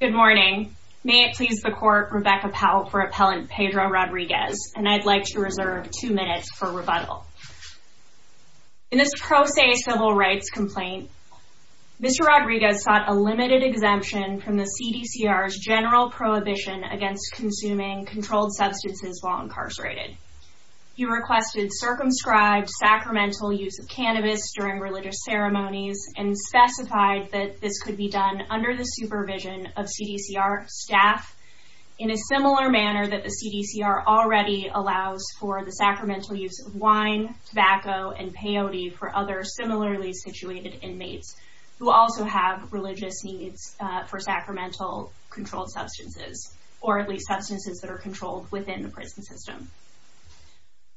Good morning. May it please the Court, Rebecca Powell for Appellant Pedro Rodriguez and I'd like to reserve two minutes for rebuttal. In this pro se civil rights complaint, Mr. Rodriguez sought a limited exemption from the CDCR's general prohibition against consuming controlled substances while incarcerated. He requested circumscribed sacramental use of cannabis during religious ceremonies and specified that this could be done under the supervision of CDCR staff in a similar manner that the CDCR already allows for the sacramental use of wine, tobacco, and peyote for other similarly situated inmates who also have religious needs for sacramental controlled substances, or at least substances that are controlled within the prison system.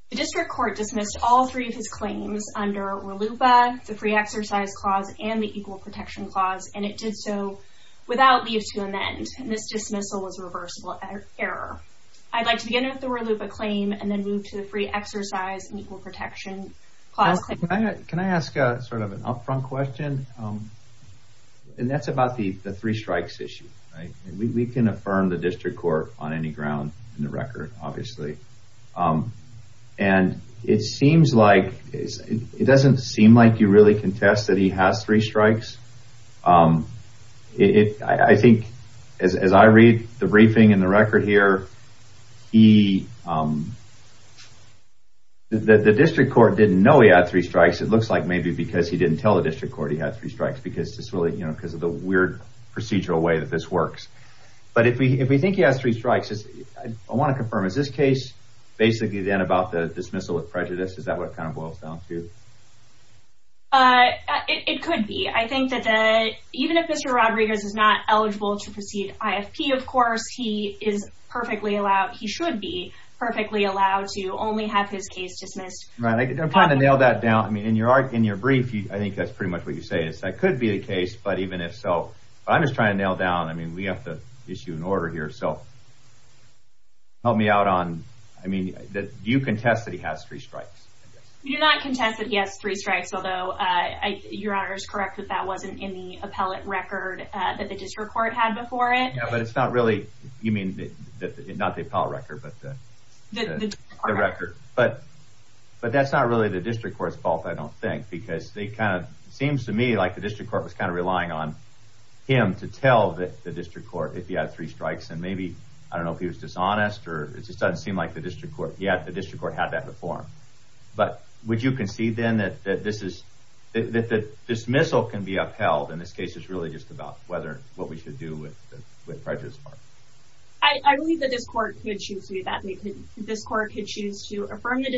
The district court dismissed all three of his claims under RLUPA, the free exercise clause, and the equal protection clause, and it did so without leave to amend, and this dismissal was reversible error. I'd like to begin with the RLUPA claim and then move to the free exercise and equal protection clause. Can I ask a sort of an upfront question? And that's about the three strikes issue, right? We can affirm the district court on any ground in the record, obviously, and it seems like it doesn't seem like you really contest that he has three strikes. I think as I read the briefing in the record here, the district court didn't know he had three strikes. It looks like maybe because he didn't tell the district court he had three strikes because of the weird procedural way that this works. But if we think he has three strikes, I want to confirm, is this case basically then about the dismissal with prejudice? Is that what kind of boils down to? It could be. I think that even if Mr. Rodriguez is not eligible to proceed IFP, of course, he is perfectly allowed, he should be perfectly allowed, to only have his case dismissed. I'm trying to nail that down. I mean, in your brief, I think that's pretty much what you say. That could be the case, but even if so, I'm just trying to nail down, I mean, we have to issue an order here. So help me out on, I mean, do you contest that he has three strikes? You do not contest that he has three strikes, although your honor is correct that that wasn't in the appellate record that the district court had before it. Yeah, but it's not really, you mean, not the appellate record, but the record. But that's not really the district court's fault, I don't think, because they kind of, seems to me like the district court was kind of relying on him to tell the district court if he had three strikes, and maybe, I don't know if he was dishonest, or it just doesn't seem like the district court, yeah, the district court had that before him. But would you concede then that this is, that the dismissal can be upheld, and this case is really just about whether, what we should do with prejudice. I believe that this court could choose to do that, this court could choose to affirm the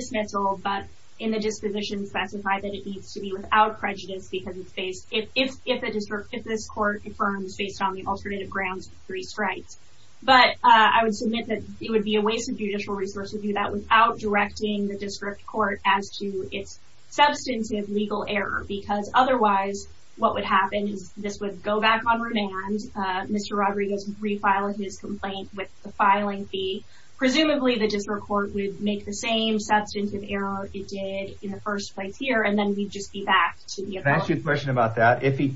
needs to be without prejudice because it's based, if the district, if this court affirms based on the alternative grounds of three strikes. But I would submit that it would be a waste of judicial resource to do that without directing the district court as to its substantive legal error, because otherwise what would happen is this would go back on remand, Mr. Rodriguez would refile his complaint with the filing fee. Presumably the district court would make the same decision and we'd just be back. Can I ask you a question about that? If he,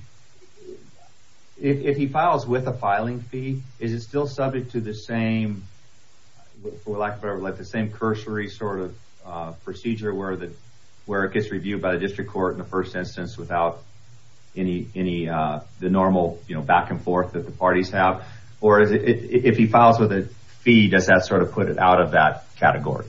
if he files with a filing fee, is it still subject to the same, for lack of whatever, like the same cursory sort of procedure where the, where it gets reviewed by the district court in the first instance without any, any, the normal, you know, back-and-forth that the parties have? Or is it, if he files with a fee, does that sort of put it out of that category?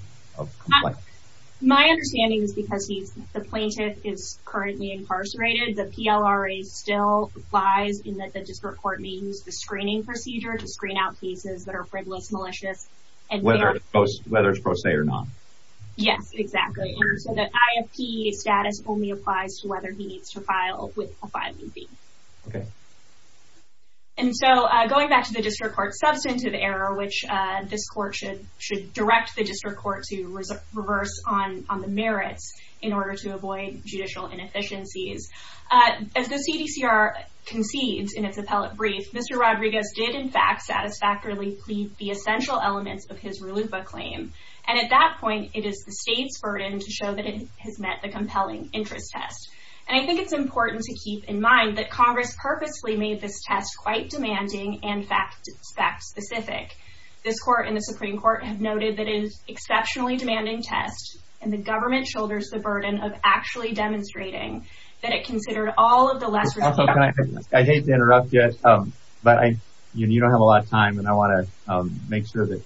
My understanding is because he's, the plaintiff is currently incarcerated, the PLRA still applies in that the district court may use the screening procedure to screen out cases that are frivolous, malicious, and whether it's pro se or not. Yes, exactly. So the IFP status only applies to whether he needs to file with a filing fee. Okay. And so going back to the district court, substantive error, which this court should, should direct the district court to reverse on, on the merits in order to avoid judicial inefficiencies. As the CDCR concedes in its appellate brief, Mr. Rodriguez did, in fact, satisfactorily plead the essential elements of his RLUIPA claim. And at that point, it is the state's burden to show that it has met the compelling interest test. And I think it's important to keep in mind that Congress purposely made this test quite specific. This court and the Supreme Court have noted that it is exceptionally demanding test, and the government shoulders the burden of actually demonstrating that it considered all of the lesser... I hate to interrupt yet, but I, you know, you don't have a lot of time and I want to make sure that,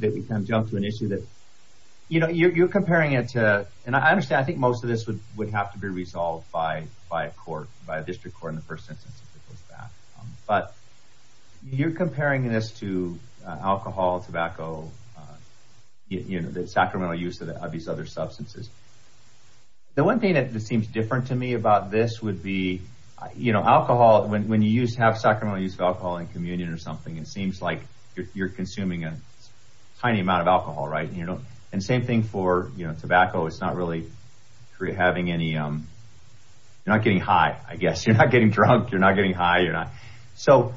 that we kind of jump to an issue that, you know, you're comparing it to, and I understand, I think most of this would, would have to be resolved by, by a court, by a district court in the first instance. But you're comparing this to alcohol, tobacco, you know, the sacramental use of these other substances. The one thing that seems different to me about this would be, you know, alcohol, when, when you use, have sacramental use of alcohol in communion or something, it seems like you're consuming a tiny amount of alcohol, right? And you don't, and same thing for, you know, tobacco, it's not really, you're having any, you're not getting high, I guess. You're not getting drunk, you're not getting high, you're not. So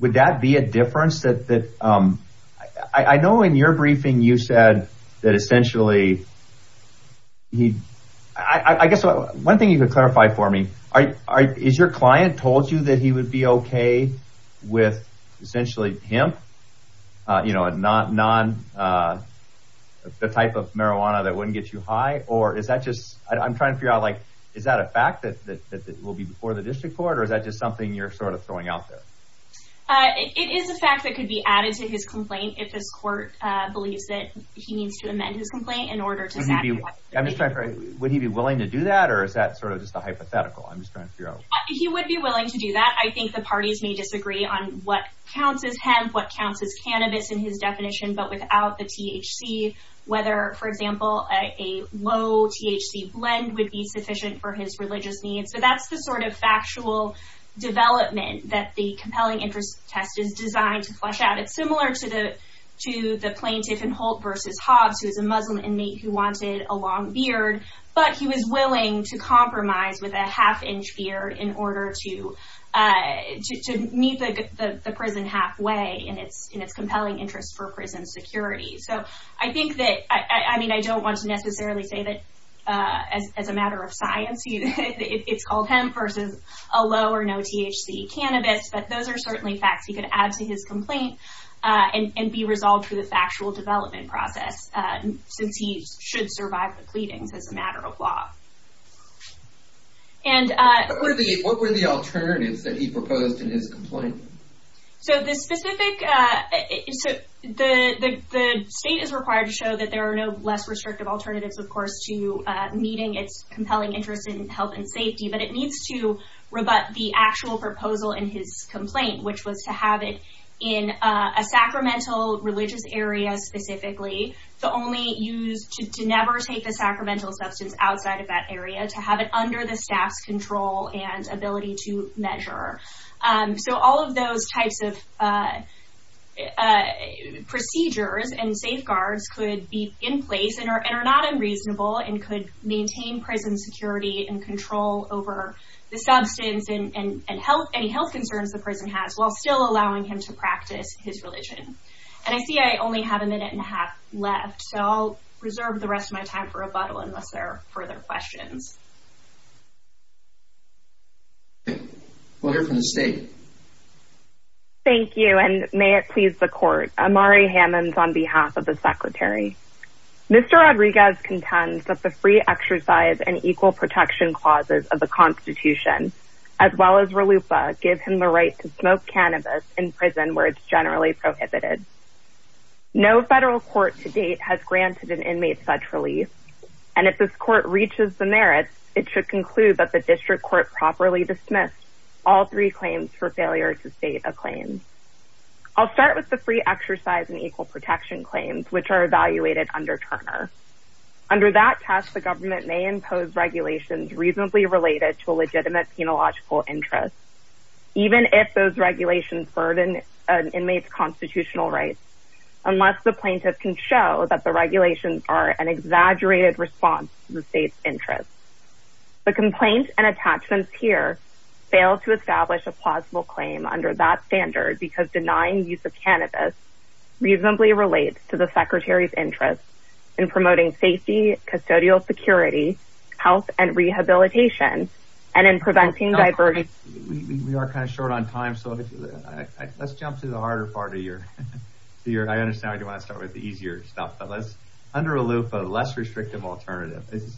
would that be a difference that, that I, I know in your briefing, you said that essentially he, I, I guess one thing you could clarify for me, are, is your client told you that he would be okay with essentially hemp, you know, a non, non, the type of marijuana that wouldn't get you high? Or is that just, I'm trying to figure out, like, is that a fact that, that, that will be before the district court, or is that just something you're sort of throwing out there? It is a fact that could be added to his complaint if this court believes that he needs to amend his complaint in order to satisfy. I'm just trying to figure out, would he be willing to do that, or is that sort of just a hypothetical? I'm just trying to figure out. He would be willing to do that. I think the parties may disagree on what counts as hemp, what counts as cannabis in his definition, but without the THC, whether, for example, a low THC blend would be sufficient for his religious needs. But that's the sort of factual development that the compelling interest test is designed to flush out. It's similar to the, to the plaintiff in Holt v. Hobbs, who is a Muslim inmate who wanted a long beard, but he was willing to compromise with a half-inch beard in order to, to meet the prison halfway in its, in its compelling interest for prison security. So I think that, I mean, I don't want to as a matter of science, it's called hemp versus a low or no THC cannabis, but those are certainly facts he could add to his complaint and be resolved for the factual development process, since he should survive the pleadings as a matter of law. And... What were the alternatives that he proposed in his complaint? So the specific, so the state is required to show that there are no less its compelling interest in health and safety, but it needs to rebut the actual proposal in his complaint, which was to have it in a sacramental religious area specifically, to only use, to never take the sacramental substance outside of that area, to have it under the staff's control and ability to measure. So all of those types of procedures and safeguards could be in place and are, and are not unreasonable and could maintain prison security and control over the substance and, and, and health, any health concerns the prison has while still allowing him to practice his religion. And I see I only have a minute and a half left, so I'll reserve the rest of my time for rebuttal unless there are further questions. We'll hear from the state. Thank you, and may it please the court. Amari Hammons on behalf of the secretary. Mr. Rodriguez contends that the free exercise and equal protection clauses of the Constitution, as well as RLUPA, give him the right to smoke cannabis in prison where it's generally prohibited. No federal court to date has granted an inmate such relief. And if this court reaches the merits, it should conclude that the district court properly dismissed all three claims for failure to state a claim. I'll start with the free exercise and equal protection claims, which are evaluated under Turner. Under that test, the government may impose regulations reasonably related to a legitimate penological interest, even if those regulations burden an inmate's constitutional rights, unless the plaintiff can show that the regulations are an exaggerated response to the state's interests. The complaint and attachments here fail to establish a plausible claim under that standard because denying use of cannabis reasonably relates to the secretary's interests in promoting safety, custodial security, health and rehabilitation, and in preventing divergence. We are kind of short on time, so let's jump to the harder part of your, I understand you want to start with the easier stuff, but let's, under RLUPA, less restrictive alternative. It's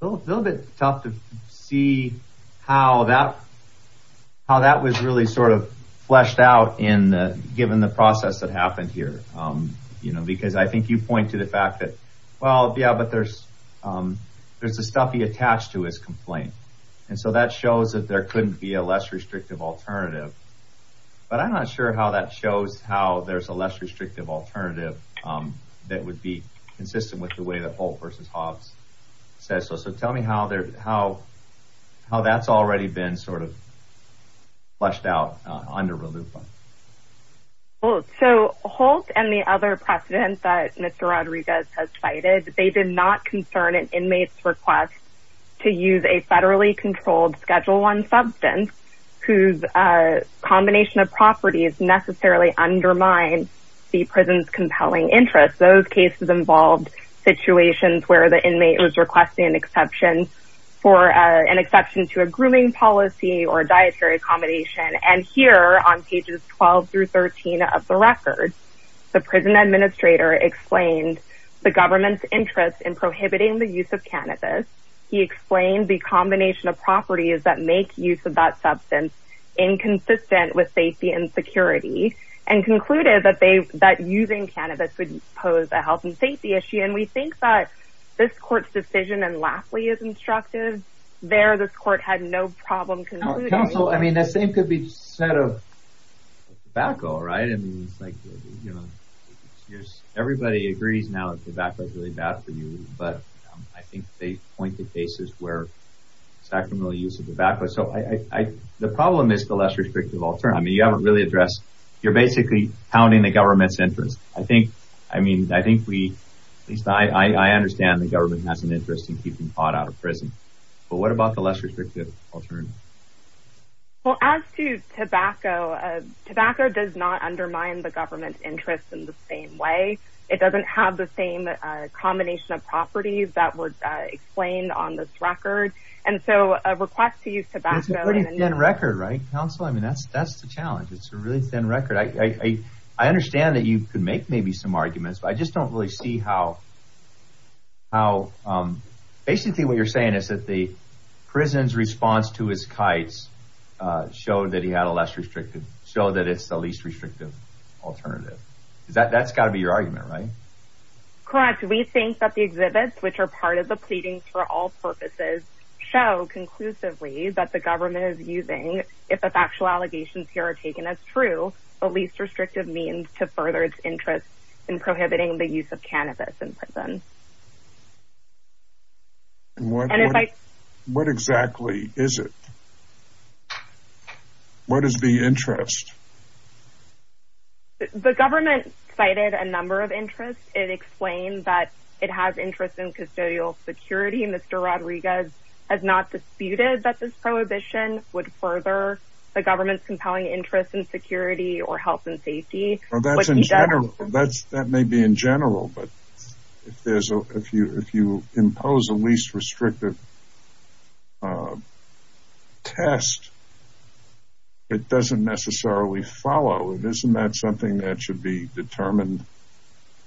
a little bit tough to see how that was really sort of fleshed out in, given the process that happened here. You know, because I think you point to the fact that, well, yeah, but there's, there's a stuffy attached to his complaint. And so that shows that there couldn't be a less restrictive alternative, but I'm not sure how that shows how there's a less restrictive alternative that would be consistent with the way that Holt versus Hobbs says. So, so tell me how they're, how, how that's already been sort of fleshed out under RLUPA. Well, so Holt and the other precedent that Mr. Rodriguez has cited, they did not concern an inmate's request to use a federally controlled Schedule I substance whose combination of properties necessarily undermine the conditions where the inmate was requesting an exception for an exception to a grooming policy or dietary accommodation. And here on pages 12 through 13 of the record, the prison administrator explained the government's interest in prohibiting the use of cannabis. He explained the combination of properties that make use of that substance inconsistent with safety and security, and concluded that they, that using cannabis would pose a health and safety issue. And we think that this court's decision, and lastly, as instructed there, this court had no problem concluding. Counsel, I mean, the same could be said of tobacco, right? I mean, it's like, you know, everybody agrees now that tobacco is really bad for you, but I think they point to cases where sacramental use of tobacco. So I, the problem is the less restrictive alternative. I mean, you haven't really addressed, you're basically pounding the government's interest. I think, I mean, I think we, at least I, I understand the government has an interest in keeping pot out of prison, but what about the less restrictive alternative? Well, as to tobacco, tobacco does not undermine the government's interest in the same way. It doesn't have the same combination of properties that was explained on this record. And so a request to use tobacco... It's a pretty thin record, right? Counsel, I mean, that's, that's the challenge. It's a really thin record. I, I, I understand that you could make maybe some arguments, but I just don't really see how, how, basically what you're saying is that the prison's response to his kites showed that he had a less restrictive, showed that it's the least restrictive alternative. Is that, that's got to be your argument, right? Correct. We think that the exhibits, which are part of the pleadings for all purposes, show conclusively that the government is using, if the factual allegations here are taken as true, a least restrictive means to further its interest in prohibiting the use of cannabis in prison. And what, what exactly is it? What is the interest? The government cited a number of interests. It explained that it has interest in custodial security. Mr. Rodriguez has not disputed that this government's compelling interest in security or health and safety. Well, that's in general. That's, that may be in general, but if there's a, if you, if you impose a least restrictive test, it doesn't necessarily follow. Isn't that something that should be determined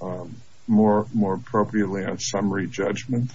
more, more appropriately on summary judgment?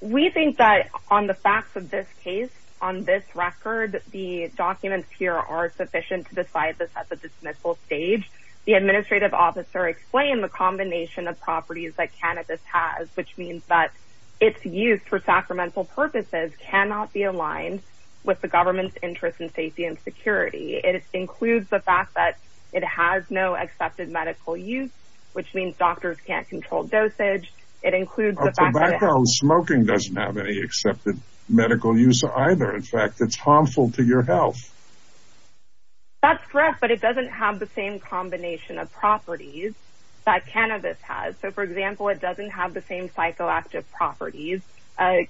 We think that on the facts of this case, on this record, the documents here are sufficient to decide this at the dismissal stage. The administrative officer explained the combination of properties that cannabis has, which means that it's used for sacramental purposes, cannot be aligned with the government's interest in safety and security. It includes the fact that it has no accepted medical use, which means doctors can't control dosage. It includes tobacco. Smoking doesn't have any accepted medical use either. In fact, it's harmful to your health. That's correct, but it doesn't have the same combination of properties that cannabis has. So for example, it doesn't have the same psychoactive properties.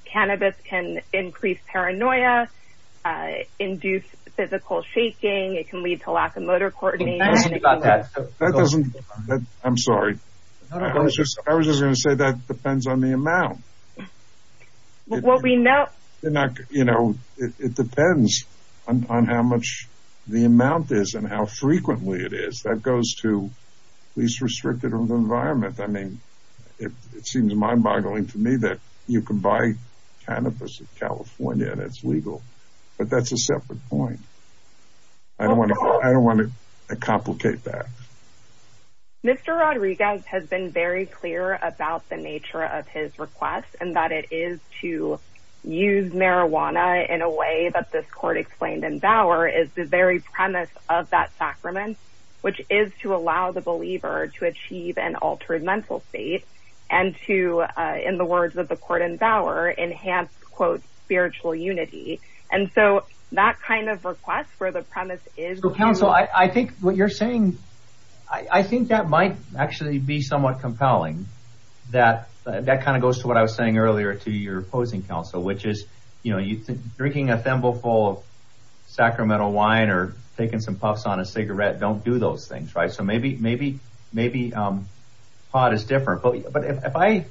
Cannabis can increase paranoia, induce physical shaking. It can lead to lack of motor coordination. That doesn't, I'm sorry. I was just going to say that depends on the amount. It depends on how much the amount is and how frequently it is. That goes to least restrictive environment. I mean, it seems mind boggling to me that you can buy cannabis in California and it's legal, but that's a separate point. I don't want to complicate that. Mr. Rodriguez has been very clear about the nature of his request and that it is to use marijuana in a way that this court explained in Bauer is the very premise of that sacrament, which is to allow the believer to achieve an altered mental state and to, in the words of the court in Bauer, enhance spiritual unity. And so that kind of request where the premise is. So counsel, I think what you're saying, I think that might actually be somewhat compelling that that kind of goes to what I was saying earlier to your opposing counsel, which is, you know, you drinking a thimble full of sacramental wine or taking some puffs on a cigarette, don't do those things. Right. So maybe, maybe, maybe, um, pot is different, but, but if I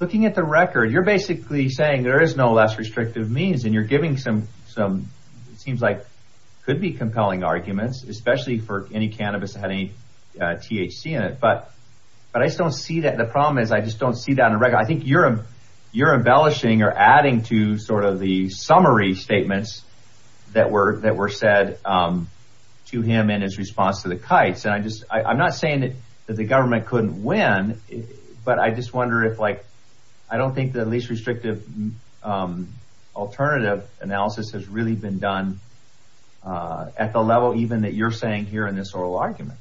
looking at the record, you're basically saying there is no less restrictive means and you're giving some, some, it seems like could be compelling arguments, especially for any cannabis that had any, uh, THC in it. But, but I just don't see that the problem is I just don't see that in the record. I think you're, you're embellishing or adding to sort of the summary statements that were, that were said, um, to him and his response to the kites. And I just, I'm not saying that, that the government couldn't win, but I just wonder if like, I don't think that at least restrictive, um, alternative analysis has really been done, uh, at the level, even that you're saying here in this oral argument.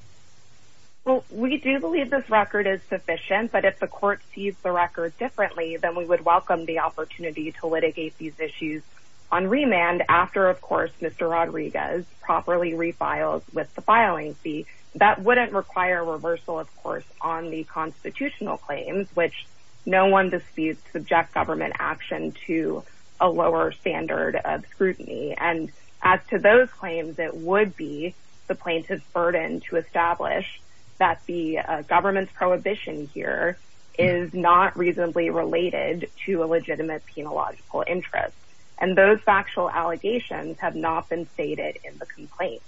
Well, we do believe this record is sufficient, but if the court sees the record differently than we would welcome the opportunity to litigate these issues on remand after, of course, Mr. Rodriguez properly refiles with the filing fee that wouldn't require reversal of course, on the constitutional claims, which no one disputes subject government action to a lower standard of scrutiny. And as to those claims, it would be the plaintiff's burden to establish that the government's prohibition here is not reasonably related to a legitimate penological interest. And those factual allegations have not been stated in the complaint.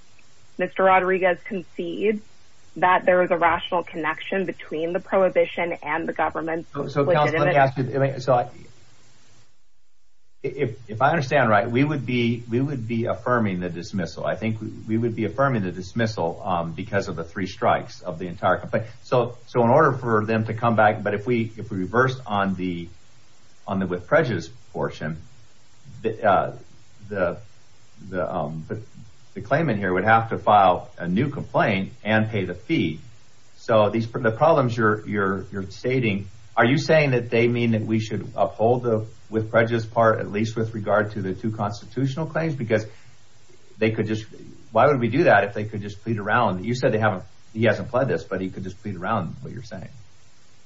Mr. Rodriguez concedes that there was a and the government. So if I understand right, we would be, we would be affirming the dismissal. I think we would be affirming the dismissal, um, because of the three strikes of the entire complaint. So, so in order for them to come back, but if we, if we reversed on the, on the with prejudice portion, the, uh, the, the, um, the claimant here would have to file a new complaint and pay the fee. So these are the problems you're, you're, you're stating, are you saying that they mean that we should uphold the, with prejudice part, at least with regard to the two constitutional claims, because they could just, why would we do that? If they could just plead around, you said they haven't, he hasn't pled this, but he could just plead around what you're saying.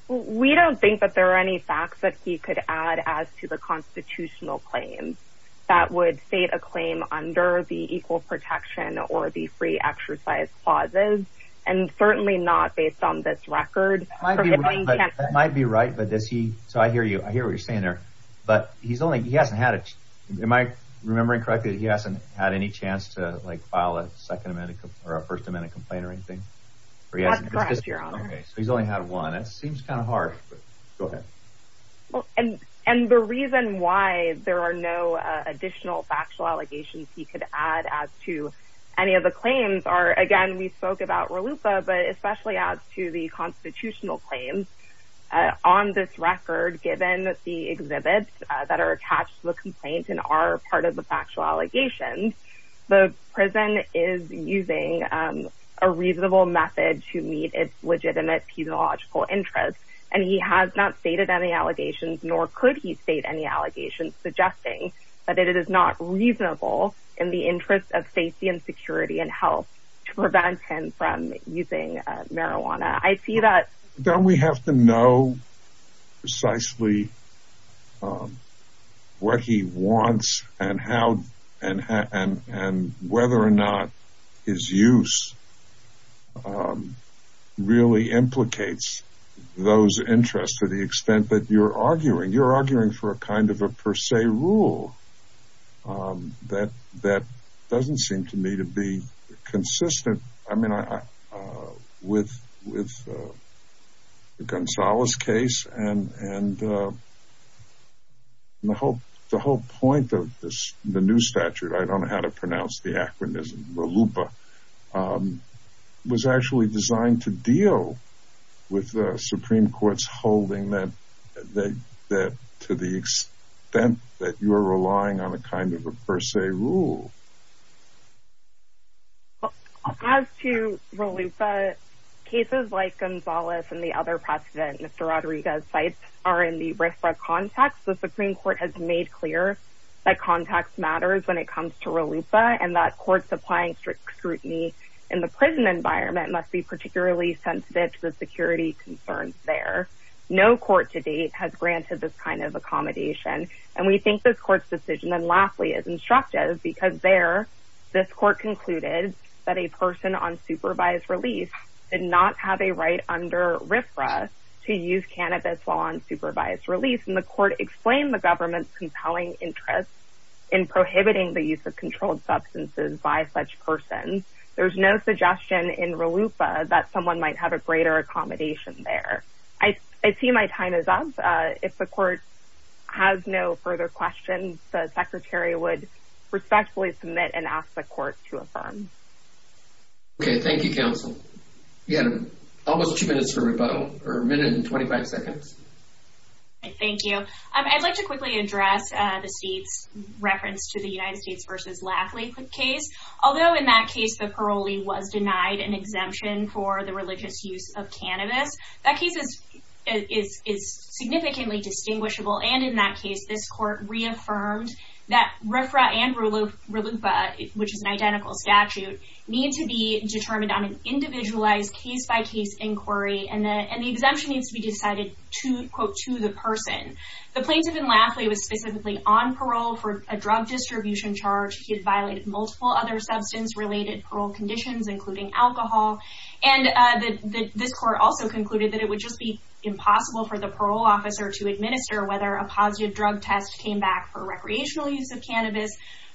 We don't think that there are any facts that he could add as to the constitutional claims that would state a claim under the equal protection or the free exercise clauses. And certainly not based on this record. That might be right, but does he, so I hear you, I hear what you're saying there, but he's only, he hasn't had it. Am I remembering correctly that he hasn't had any chance to like file a second amendment or a first amendment complaint or anything? That's correct, your honor. Okay. So he's only had one. That seems kind of harsh, but go ahead. Well, and, and the reason why there are no additional factual allegations he could add as to any of the claims are, again, we spoke about Raluca, but especially as to the constitutional claims, uh, on this record, given the exhibits that are attached to the complaint and are part of the factual allegations, the prison is using, um, a reasonable method to meet its legitimate pedagogical interests. And he has not stated any allegations, nor could he state any allegations suggesting that it is not reasonable in the interest of safety and security and health to prevent him from using marijuana. I see that. Don't we have to know precisely, um, what he wants and how and, and, and whether or not his use, um, really implicates those interests to the extent that you're for a kind of a per se rule, um, that, that doesn't seem to me to be consistent. I mean, I, uh, with, with, uh, the Gonzalez case and, and, uh, the whole, the whole point of this, the new statute, I don't know how to pronounce the acronym is Raluca, um, was actually designed to deal with the Supreme court's holding that, that, that to the extent that you're relying on a kind of a per se rule. As to Raluca cases like Gonzalez and the other precedent, Mr. Rodriguez sites are in the RIFRA context. The Supreme court has made clear that context matters when it comes to Raluca and that courts applying strict scrutiny in the prison environment must be no court to date has granted this kind of accommodation. And we think this court's decision. And lastly, as instructive, because there, this court concluded that a person on supervised release did not have a right under RIFRA to use cannabis while on supervised release. And the court explained the government's compelling interest in prohibiting the use of controlled substances by such persons. There's no suggestion in Raluca that someone might have a greater accommodation. I, I see my time is up. Uh, if the court has no further questions, the secretary would respectfully submit and ask the court to affirm. Okay. Thank you, counsel. You had almost two minutes for rebuttal or a minute and 25 seconds. Okay. Thank you. Um, I'd like to quickly address, uh, the states reference to the United States versus Lafley case. Although in that case, the parolee was denied an exemption for the religious use of cannabis, that case is, is, is significantly distinguishable. And in that case, this court reaffirmed that RIFRA and Raluca, which is an identical statute need to be determined on an individualized case by case inquiry. And the, and the exemption needs to be decided to quote to the person. The plaintiff in Lafley was specifically on parole for a drug distribution charge. He had violated multiple other substance related parole conditions, including alcohol. And, uh, the, the, this court also concluded that it would just be impossible for the parole officer to administer whether a positive drug test came back for recreational use of cannabis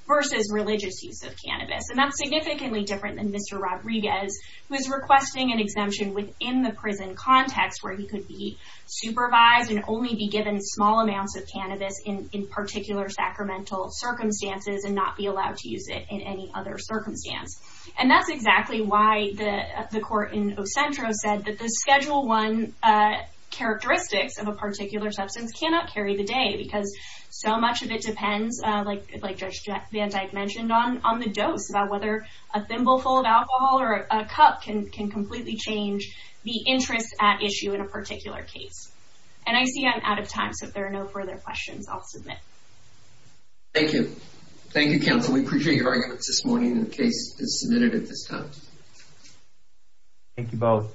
versus religious use of cannabis. And that's significantly different than Mr. Rodriguez, who is requesting an exemption within the prison context where he could be supervised and only be given small amounts of cannabis in particular sacramental circumstances and not be allowed to use it in any other circumstance. And that's exactly why the, the court in Ocentro said that the schedule one, uh, characteristics of a particular substance cannot carry the day because so much of it depends, uh, like, like Judge Van Dyke mentioned on, on the dose about whether a thimble full of alcohol or a cup can, can completely change the interest at issue in a particular case. And I see I'm out of time. So if there are no further questions, I'll submit. Thank you. Thank you, counsel. We appreciate your arguments this morning. The case is submitted at this time. Thank you both.